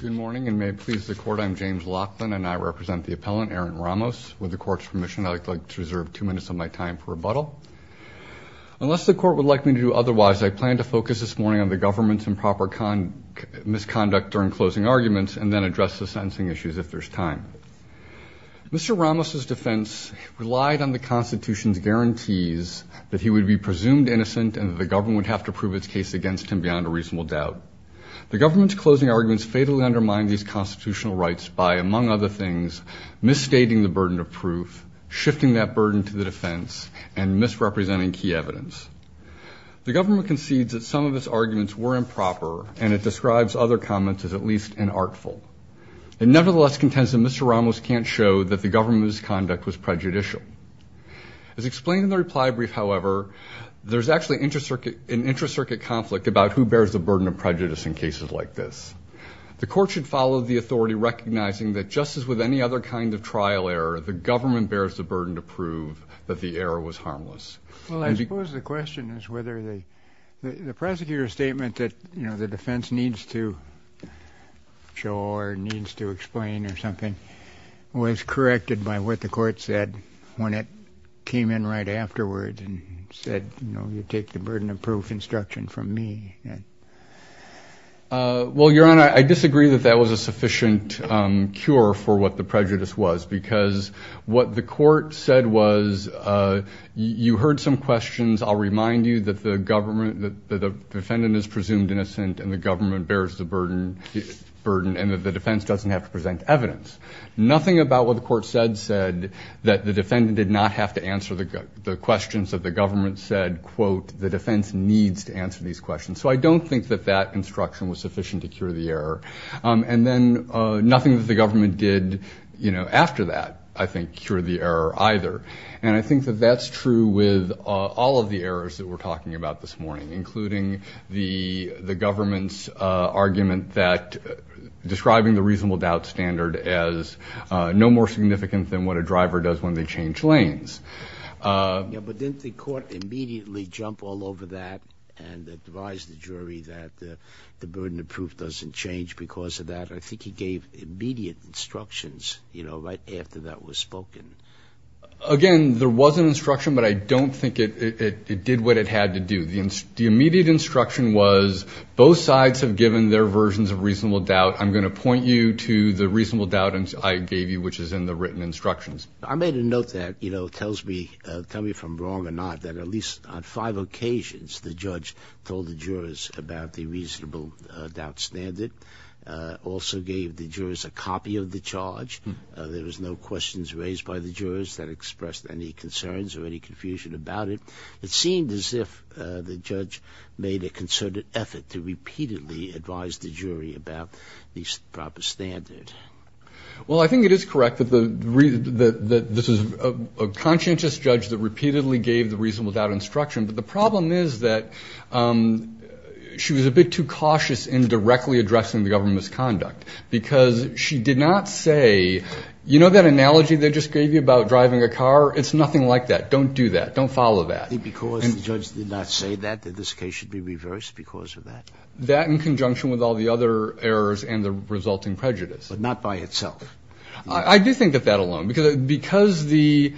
Good morning and may it please the court I'm James Laughlin and I represent the appellant Aaron Ramos. With the court's permission I'd like to reserve two minutes of my time for rebuttal. Unless the court would like me to do otherwise I plan to focus this morning on the government's improper misconduct during closing arguments and then address the sentencing issues if there's time. Mr. Ramos's defense relied on the Constitution's guarantees that he would be presumed innocent and the government would have to prove its case against him without a reasonable doubt. The government's closing arguments fatally undermine these constitutional rights by among other things misstating the burden of proof, shifting that burden to the defense, and misrepresenting key evidence. The government concedes that some of his arguments were improper and it describes other comments as at least unartful. It nevertheless contends that Mr. Ramos can't show that the government's conduct was prejudicial. As explained in the reply brief however there's actually an intracircuit conflict about who bears the burden of prejudice in cases like this. The court should follow the authority recognizing that just as with any other kind of trial error the government bears the burden to prove that the error was harmless. Well I suppose the question is whether the prosecutor's statement that you know the defense needs to show or needs to explain or something was corrected by what the court said when it came in right afterwards and said you know you take the burden of proof instruction from me. Well your honor I disagree that that was a sufficient cure for what the prejudice was because what the court said was you heard some questions I'll remind you that the government that the defendant is presumed innocent and the government bears the burden and that the defense doesn't have to present evidence. Nothing about what the court said said that the defendant did not have to answer the questions that the government said quote the defense needs to answer these questions. So I don't think that that instruction was sufficient to cure the error and then nothing that the government did you know after that I think cure the error either and I think that that's true with all of the errors that we're talking about this morning including the the government's argument that describing the reasonable doubt standard as no more significant than what a driver does when they change lanes. Yeah but didn't the court immediately jump all over that and advise the jury that the burden of proof doesn't change because of that I think he gave immediate instructions you know right after that was spoken. Again there was an instruction but I don't think it did what it had to do. The immediate instruction was both sides have given their versions of reasonable doubt I'm going to point you to the reasonable doubt I gave you which is in the written instructions. I made a note that you know tells me tell me if I'm wrong or not that at least on five occasions the judge told the jurors about the reasonable doubt standard. Also gave the jurors a copy of the charge. There was no questions raised by the jurors that expressed any concerns or any confusion about it. It seemed as if the judge made a concerted effort to repeatedly advise the jury about the proper standard. Well I think it is correct that the reason that this is a conscientious judge that repeatedly gave the reasonable doubt instruction but the problem is that she was a bit too cautious in directly addressing the government's conduct because she did not say you know that analogy they just gave you about driving a car it's nothing like that don't do that don't follow that. Because the judge did not say that that this case should be reversed because of that. That in conjunction with all the other errors and the resulting prejudice. But not by itself. I do think that that alone because the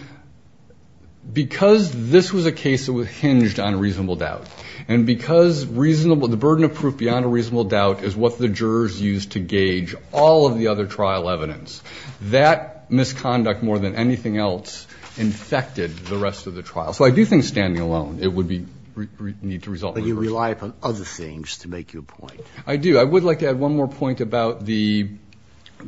because this was a case that was hinged on a reasonable doubt and because reasonable the burden of proof beyond a reasonable doubt is what the jurors used to gauge all of the other trial evidence that misconduct more than anything else infected the rest of the trial. So I do think standing alone it would be need to resolve. But you rely upon other things to make your point. I do I would like to add one more point about the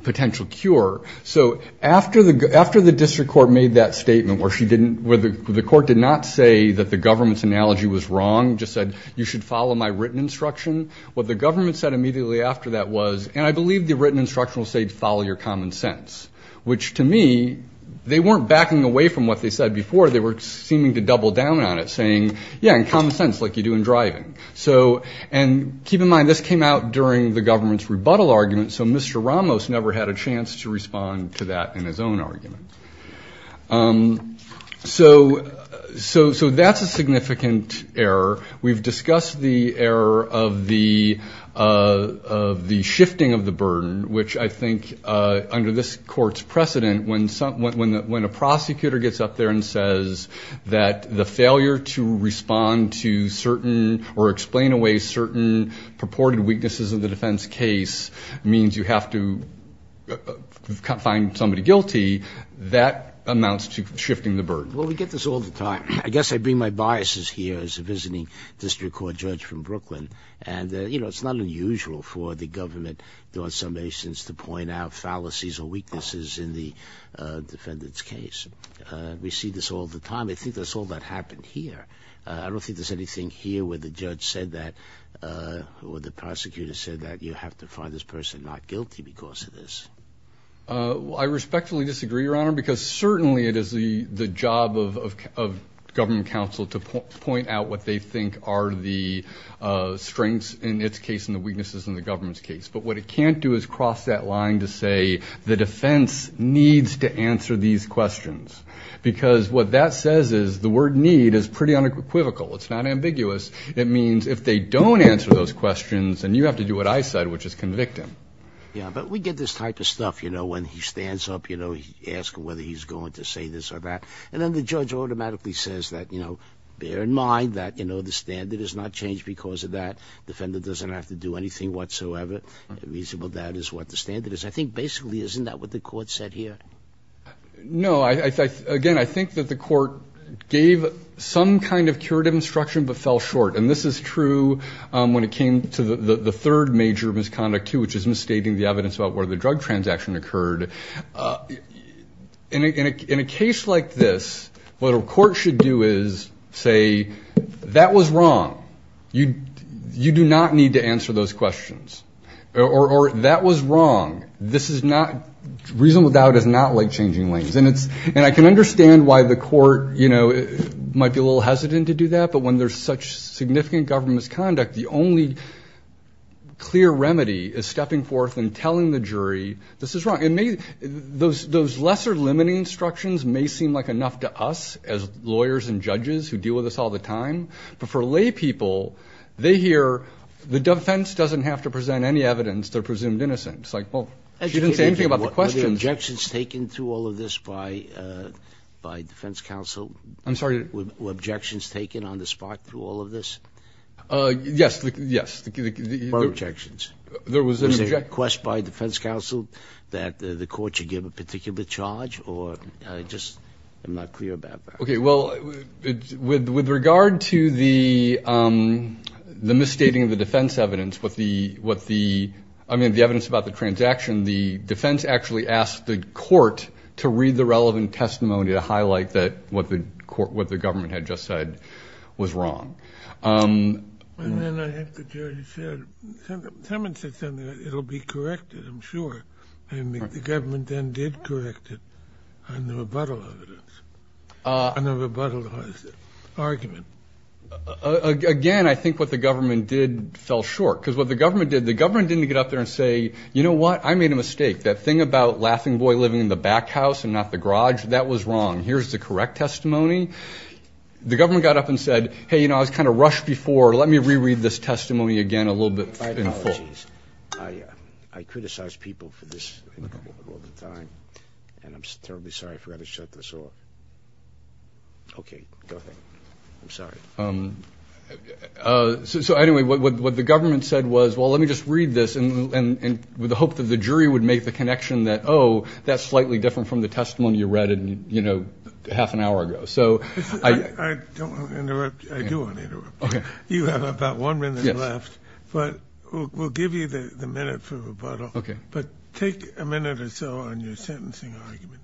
potential cure. So after the after the district court made that statement where she didn't where the court did not say that the government's analogy was wrong just said you should follow my written instruction. What the government said immediately after that was and I believe the written instruction will say to follow your common sense. Which to me they weren't backing away from what they said before they were seeming to double down on it saying yeah in common sense like you do in driving. So and keep in mind this came out during the government's rebuttal argument. So Mr. Ramos never had a chance to respond to that in his own argument. So so so that's a significant error. We've discussed the error of the of the shifting of the burden which I think under this court's precedent when someone when a prosecutor gets up there and says that the failure to respond to certain or explain away certain purported weaknesses of the defense case means you have to find somebody guilty. That amounts to shifting the burden. Well we get this all the time. I guess I bring my biases here as a visiting district court judge from Brooklyn. And you know it's not unusual for the government there are some situations to point out fallacies or weaknesses in the defendant's case. We see this all the time. I think that's all that happened here. I don't think there's anything here where the judge said that or the prosecutor said that you have to find this person not guilty because of this. I respectfully disagree your honor because certainly it is the the job of of government counsel to point out what they think are the strengths in its case and the weaknesses in the government's case. But what it can't do is cross that line to say the defense needs to answer these questions. Because what that says is the word need is pretty unequivocal. It's not ambiguous. It means if they don't answer those questions then you have to do what I said which is convict him. Yeah but we get this type of stuff you know when he stands up you know he asks whether he's going to say this or that. And then the judge automatically says that you know bear in mind that you know the standard is not changed because of that. Defendant doesn't have to do anything whatsoever. Reasonable doubt is what the standard is. I think basically isn't that what the court said here? No I think again I think that the court gave some kind of curative instruction but fell short and this is true when it came to the third major misconduct too which is misstating the evidence about where the drug transaction occurred. In a case like this what a court should do is say that was wrong. You do not need to answer those questions. Or that was wrong. This is not reasonable doubt is not like changing lanes. And I can understand why the court you know might be a little hesitant to do that but when there's such significant government misconduct the only clear remedy is stepping forth and telling the jury this is wrong. Those lesser limiting instructions may seem like enough to us as lawyers and judges who deal with this all the time but for lay people they hear the defense doesn't have to present any evidence they're presumed innocent. It's like well she didn't say anything about the questions. Were the objections taken through all of this by defense counsel? I'm sorry. Were objections taken on the spot through all of this? Yes. There were objections. Was there a request by defense counsel that the court should give a particular charge or I just am not clear about that. Okay well with regard to the misstating of the defense evidence with the what the I mean the evidence about the transaction the defense actually asked the court to read the relevant testimony to highlight that what the court what the government had just said was wrong. And then I think the jury said it will be corrected I'm sure and the government then did correct it on the rebuttal evidence on the rebuttal argument. Again I think what the government did fell short because what the government did the government didn't get up there and say you know what I made a mistake that thing about laughing boy living in the back house and not the garage that was wrong here's the correct testimony. The government got up and said hey you know I was kind of rushed before let me reread this testimony again a little bit in full. I criticize people for this all the time and I'm terribly sorry I forgot to shut this off. Okay go ahead I'm sorry. So anyway what the government said was well let me just read this and with the hope that the jury would make the connection that oh that's slightly different from the testimony you read in you an hour ago. I do want to interrupt you have about one minute left but we'll give you the minute for rebuttal but take a minute or so on your sentencing argument.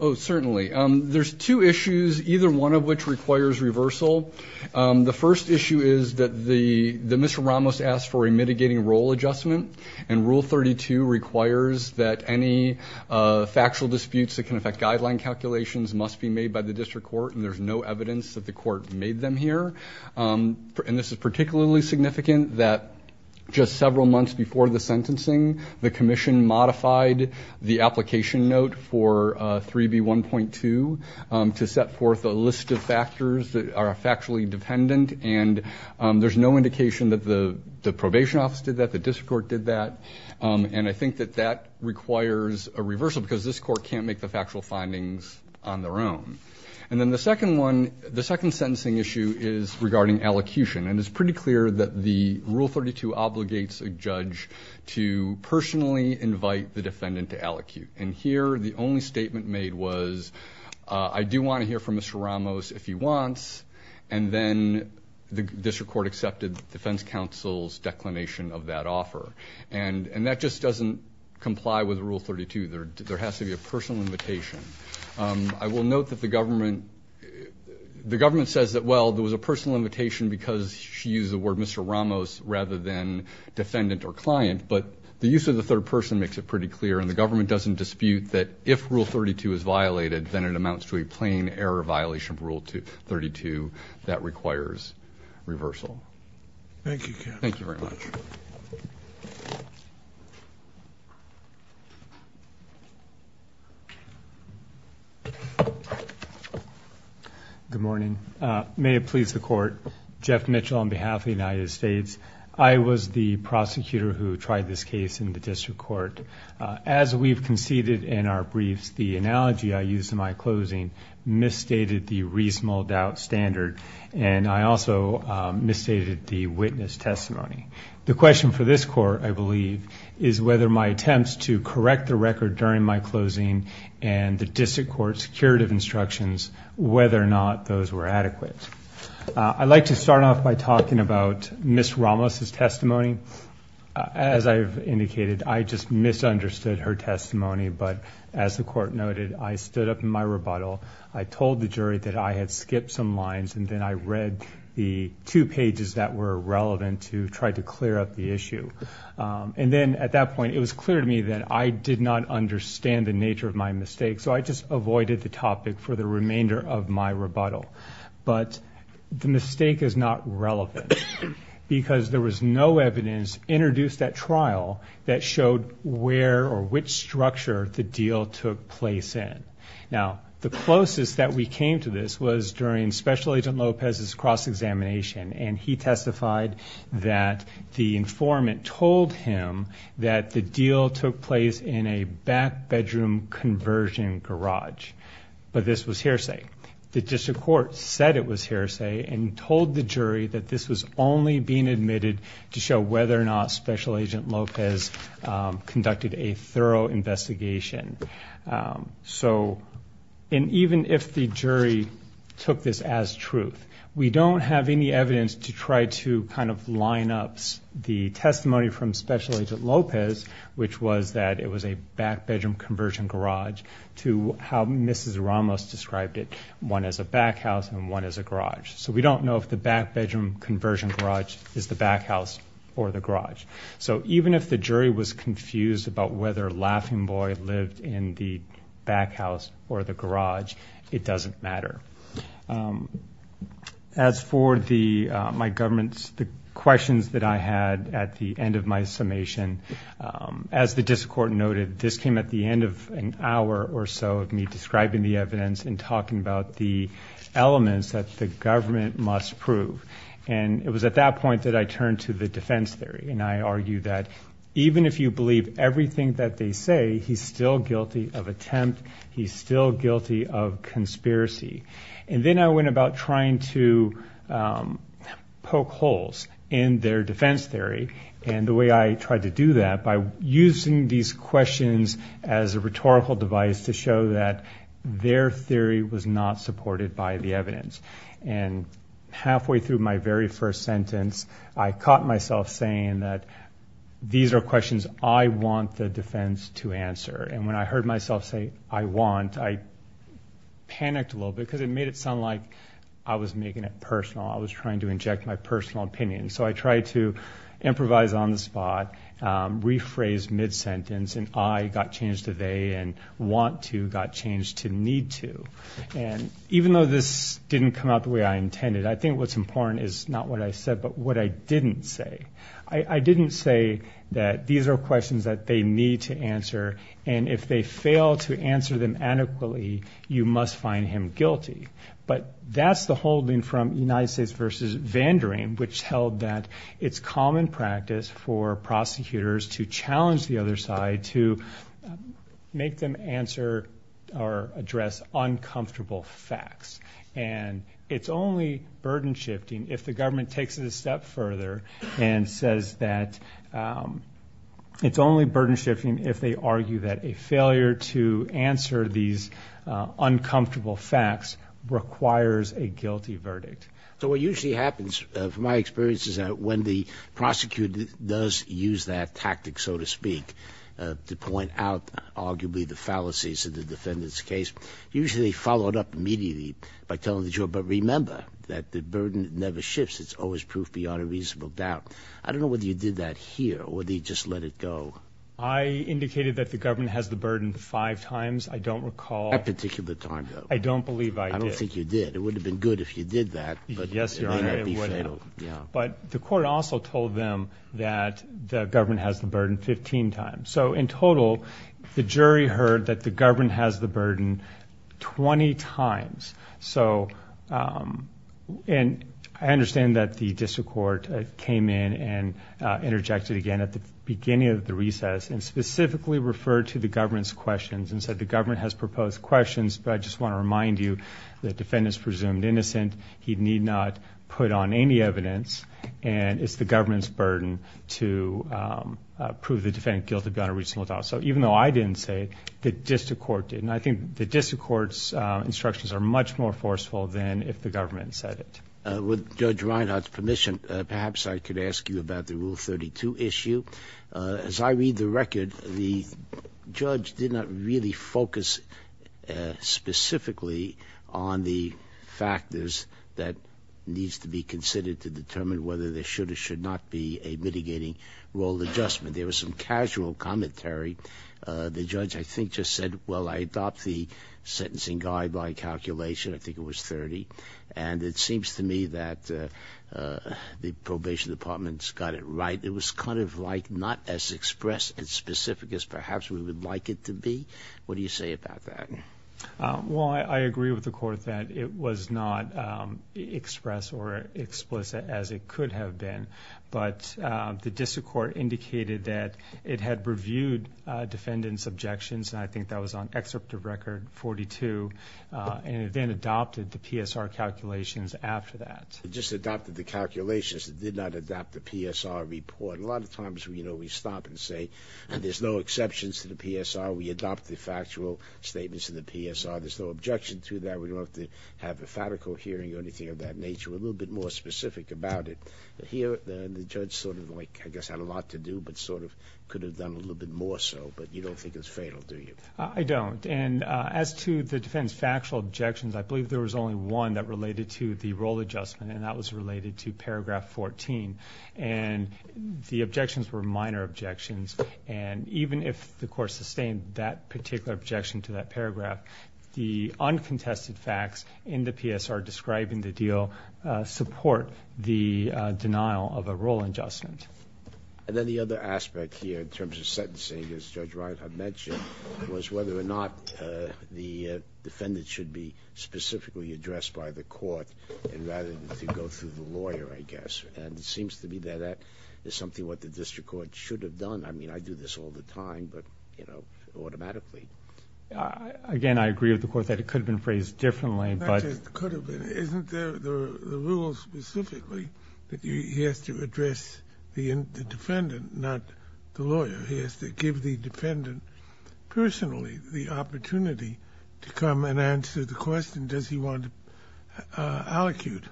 Oh certainly there's two issues either one of which requires reversal. The first issue is that the Mr. Ramos asked for a mitigating role adjustment and rule 32 requires that any factual disputes that can affect guideline calculations must be made by the district court and there's no evidence that the court made them here and this is particularly significant that just several months before the sentencing the commission modified the application note for 3b 1.2 to set forth a list of factors that are factually dependent and there's no indication that the the probation office did that the district court did that and I think that that requires a reversal because this court can't make the factual findings on their own and then the second one the second sentencing issue is regarding allocution and it's pretty clear that the rule 32 obligates a judge to personally invite the defendant to allocute and here the only statement made was I do want to hear from Mr. Ramos if he wants and then the district court accepted defense counsel's declination of that offer and and that just doesn't comply with rule 32 there there has to be a personal invitation I will note that the government the government says that well there was a personal invitation because she used the word Mr. Ramos rather than defendant or client but the use of the third person makes it pretty clear and the government doesn't dispute that if rule 32 is violated then it amounts to a plain error violation of rule to 32 that requires reversal thank you thank you good morning may it please the court Jeff Mitchell on behalf of the United States I was the prosecutor who tried this case in the district court as we've conceded in our briefs the analogy I used in my closing misstated the reasonable doubt standard and I also misstated the witness testimony the question for this court I believe is whether my attempts to correct the record during my closing and the district court's curative instructions whether or not those were adequate I'd like to start off by talking about Miss Ramos's testimony as I've indicated I just misunderstood her testimony but as the court noted I stood up in my rebuttal I told the jury that I had skipped some lines and then I read the two that were relevant to try to clear up the issue and then at that point it was clear to me that I did not understand the nature of my mistake so I just avoided the topic for the remainder of my rebuttal but the mistake is not relevant because there was no evidence introduced at trial that showed where or which structure the deal took place in now the closest that we came to this was during special agent Lopez's cross-examination and he testified that the informant told him that the deal took place in a back bedroom conversion garage but this was hearsay the district court said it was hearsay and told the jury that this was only being admitted to show whether or not special agent Lopez conducted a thorough investigation so and even if the jury took this as truth we don't have any evidence to try to kind of line up the testimony from special agent Lopez which was that it was a back bedroom conversion garage to how Mrs. Ramos described it one as a back house and one as a garage so we don't know if the back bedroom conversion garage is the back house or the garage so even if the jury was confused about whether laughing boy lived in the back house or the garage it doesn't matter as for the my government's the questions that I had at the end of my summation as the district court noted this came at the end of an hour or so of me describing the evidence and talking about the elements that the government must prove and it was at that point that I turned to the defense theory and I argued that even if you believe everything that they say he's still guilty of attempt he's still guilty of conspiracy and then I went about trying to poke holes in their defense theory and the way I tried to do that by using these questions as a rhetorical device to show that their theory was not supported by the evidence and halfway through my very first sentence I caught myself saying that these are questions I want the defense to answer and when I heard myself say I want I panicked a little bit because it made it sound like I was making it personal I was trying to inject my personal opinion so I tried to improvise on the spot rephrase mid-sentence and I got changed today and want to got changed to need to and even though this didn't come out the way I intended I think what's important is not what I said but what I didn't say I didn't say that these are questions that they need to answer and if they fail to answer them adequately you must find him guilty but that's the holding from United States versus Vandering which held that it's common practice for prosecutors to challenge the other side to make them answer or address uncomfortable facts and it's only burden shifting if the government takes it a step further and says that it's only burden shifting if they argue that a failure to answer these uncomfortable facts requires a guilty verdict. So what usually happens from my experience is that when the prosecutor does use that tactic so to speak to point out arguably the fallacies of the defendant's case usually they follow it up immediately by telling the juror but remember that the burden never shifts it's always proof beyond a reasonable doubt. I don't know whether you did that here or did you just let it go. I indicated that the government has the burden five times I don't recall. That particular time though. I don't believe I did. I don't think you did it would have been good if you did that. Yes your honor it would have. But the court also told them that the government has the burden 15 times. So in total the jury heard that the government has the burden 20 times. So and I understand that the district court came in and interjected again at the beginning of the recess and specifically referred to the government's questions and said the government has proposed questions but I just want to presume innocent he need not put on any evidence and it's the government's burden to prove the defendant guilty beyond a reasonable doubt. So even though I didn't say it the district court did. And I think the district court's instructions are much more forceful than if the government said it. With Judge Reinhart's permission perhaps I could ask you about the Rule 32 issue. As I read the record the judge did not really focus specifically on the defendant factors that needs to be considered to determine whether there should or should not be a mitigating role adjustment. There was some casual commentary. The judge I think just said well I adopt the sentencing guide by calculation. I think it was 30. And it seems to me that the probation department's got it right. It was kind of like not as expressed and specific as perhaps we would like it to be. What do you say about that? Well I agree with the court that it was not expressed or explicit as it could have been. But the district court indicated that it had reviewed defendant's objections. And I think that was on excerpt of record 42. And it then adopted the PSR calculations after that. It just adopted the calculations. It did not adopt the PSR report. A lot of times you know we stop and say there's no exceptions to the PSR. We adopt the factual statements in the PSR. There's no objection to that. We don't have to have a fabrical hearing or anything of that nature. A little bit more specific about it. Here the judge sort of like I guess had a lot to do but sort of could have done a little bit more so. But you don't think it's fatal do you? I don't. And as to the defendant's factual objections, I believe there was only one that related to the role adjustment. And that was related to paragraph 14. And the objections were minor objections. And even if the court sustained that particular objection to that paragraph, the uncontested facts in the PSR describing the deal support the denial of a role adjustment. And then the other aspect here in terms of sentencing as Judge Reinhart mentioned was whether or not the defendant should be specifically addressed by the court rather than to go through the lawyer I guess. And it seems to me that that is something that the district court should have done. I mean I do this all the time but you know automatically. Again, I agree with the court that it could have been phrased differently but... It could have been. Isn't there the rule specifically that he has to address the defendant, not the lawyer? He has to give the defendant personally the opportunity to come and answer the question does he want to allocute?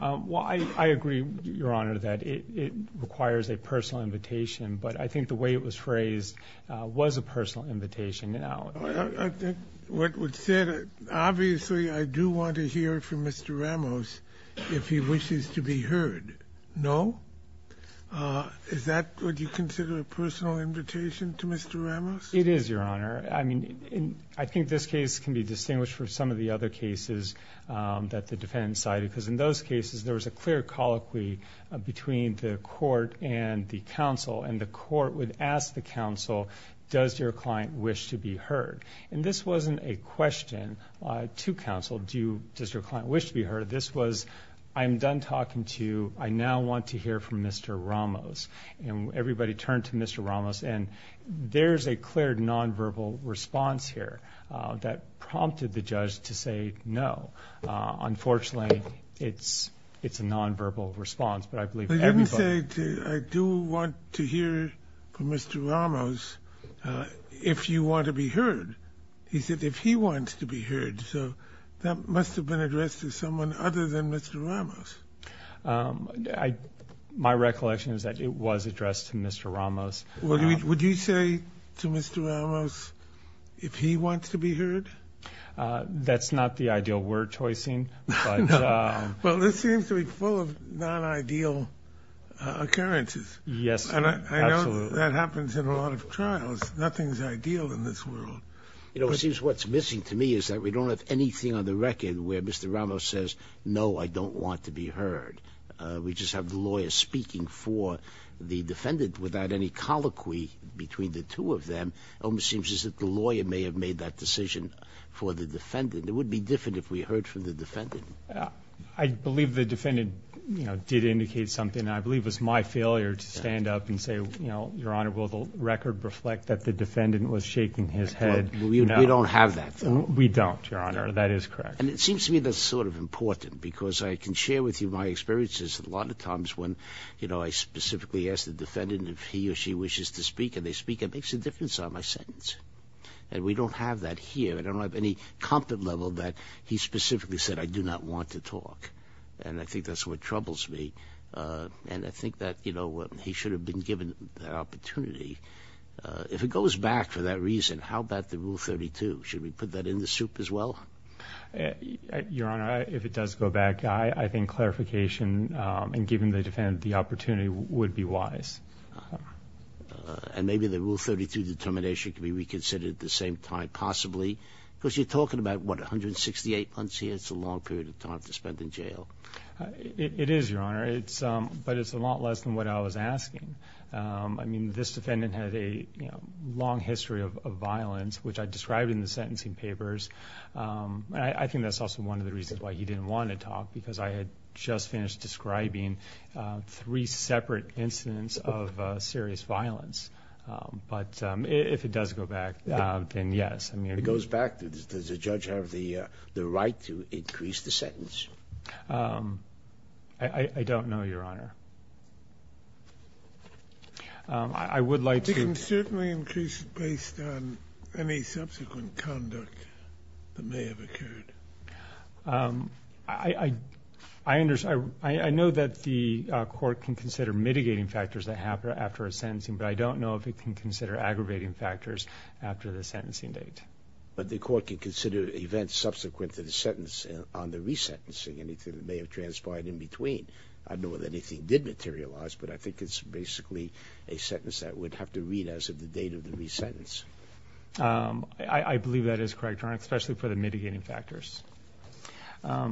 Well I agree, Your Honor, that it requires a personal invitation. But I think the way it was phrased was a personal invitation. What was said, obviously I do want to hear from Mr. Ramos if he wishes to be heard. No? Is that what you consider a personal invitation to Mr. Ramos? It is, Your Honor. I mean I think this case can be distinguished from some of the other cases that the defendant cited because in those cases there was a clear colloquy between the court and the counsel and the court would ask the counsel does your client wish to be heard? And this wasn't a question to counsel, does your client wish to be heard? This was I'm done talking to you, I now want to hear from Mr. Ramos. And everybody turned to Mr. Ramos and there's a clear nonverbal response here that prompted the judge to say no. Unfortunately it's a nonverbal response, but I believe everybody... But you didn't say I do want to hear from Mr. Ramos if you want to be heard. You said if he wants to be heard, so that must have been addressed to someone other than Mr. Ramos. My recollection is that it was addressed to Mr. Ramos. Would you say to Mr. Ramos if he wants to be heard? That's not the ideal word choice, but... Well this seems to be full of non-ideal occurrences. Yes, absolutely. And I know that happens in a lot of trials. Nothing's ideal in this world. You know, it seems what's missing to me is that we don't have anything on the record where Mr. Ramos says no, I don't want to be heard. We just have the lawyer speaking for the defendant without any colloquy between the two of them. It almost seems as if the defendant... It would be different if we heard from the defendant. I believe the defendant did indicate something, and I believe it was my failure to stand up and say, Your Honor, will the record reflect that the defendant was shaking his head? We don't have that. We don't, Your Honor. That is correct. And it seems to me that's sort of important, because I can share with you my experiences a lot of times when I specifically ask the defendant if he or she wishes to speak, and if they speak, it makes a difference on my sentence. And we don't have that here. I don't have any comfort level that he specifically said, I do not want to talk. And I think that's what troubles me. And I think that, you know, he should have been given that opportunity. If it goes back for that reason, how about the Rule 32? Should we put that in the soup as well? Your Honor, if it does go back, I think clarification and giving the defendant the opportunity would be wise. And maybe the Rule 32 determination could be reconsidered at the same time, possibly. Because you're talking about, what, 168 months here? It's a long period of time to spend in jail. It is, Your Honor. But it's a lot less than what I was asking. I mean, this defendant had a long history of violence, which I described in the sentencing papers. I think that's also one of the reasons why he didn't want to talk, because I had just of serious violence. But if it does go back, then yes. If it goes back, does the judge have the right to increase the sentence? I don't know, Your Honor. I would like to... He can certainly increase it based on any subsequent conduct that may have occurred. I know that the court can consider mitigating factors that happen after a sentencing, but I don't know if it can consider aggravating factors after the sentencing date. But the court can consider events subsequent to the sentence on the resentencing, anything that may have transpired in between. I don't know if anything did materialize, but I think it's basically a sentence that would have to read as of the date of the resentence. I believe that is correct, Your Honor, especially for the mitigating factors. All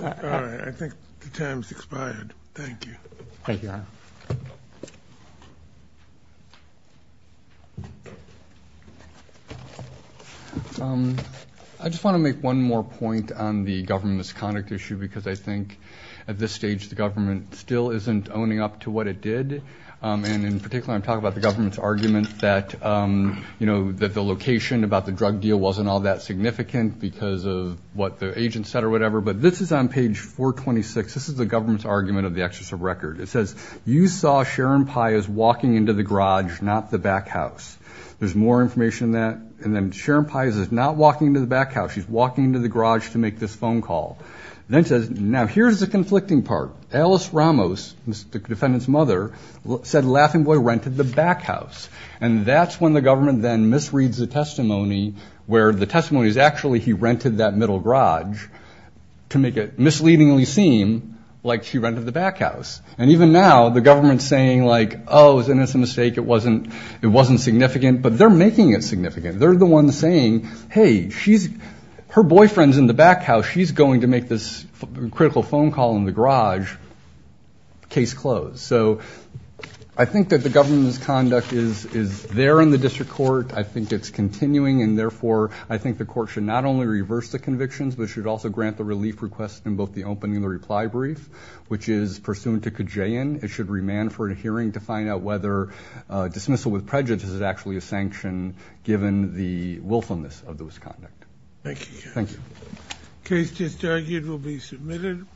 right. I think the time has expired. Thank you. Thank you, Your Honor. I just want to make one more point on the government misconduct issue, because I think at this stage the government still isn't owning up to what it did. And in particular, I'm talking about the government's argument that the location about the drug deal wasn't all that significant because of what the agent said or whatever. But this is on page 426. This is the government's argument of the excess of record. It says, you saw Sharon Pias walking into the garage, not the back house. There's more information on that. And then Sharon Pias is not walking into the back house. She's walking into the garage to make this phone call. Then it says, now here's the conflicting part. Alice Ramos, the defendant's mother, said Laughing Boy rented the back house. And that's when the government then misreads the testimony where the testimony is actually he rented that middle garage to make it misleadingly seem like she rented the back house. And even now the government's saying, like, oh, then it's a mistake. It wasn't significant. But they're making it significant. They're the ones saying, hey, her boyfriend's in the back house. She's going to make this critical phone call in the garage. Case closed. So I think that the government's conduct is there in the district court. I think it's continuing. And, therefore, I think the court should not only reverse the convictions, but should also grant the relief request in both the opening and the reply brief, which is pursuant to Kajayan. It should remand for a hearing to find out whether dismissal with prejudice is actually a sanction given the willfulness of those conduct. Thank you. Thank you. Case disargued will be submitted.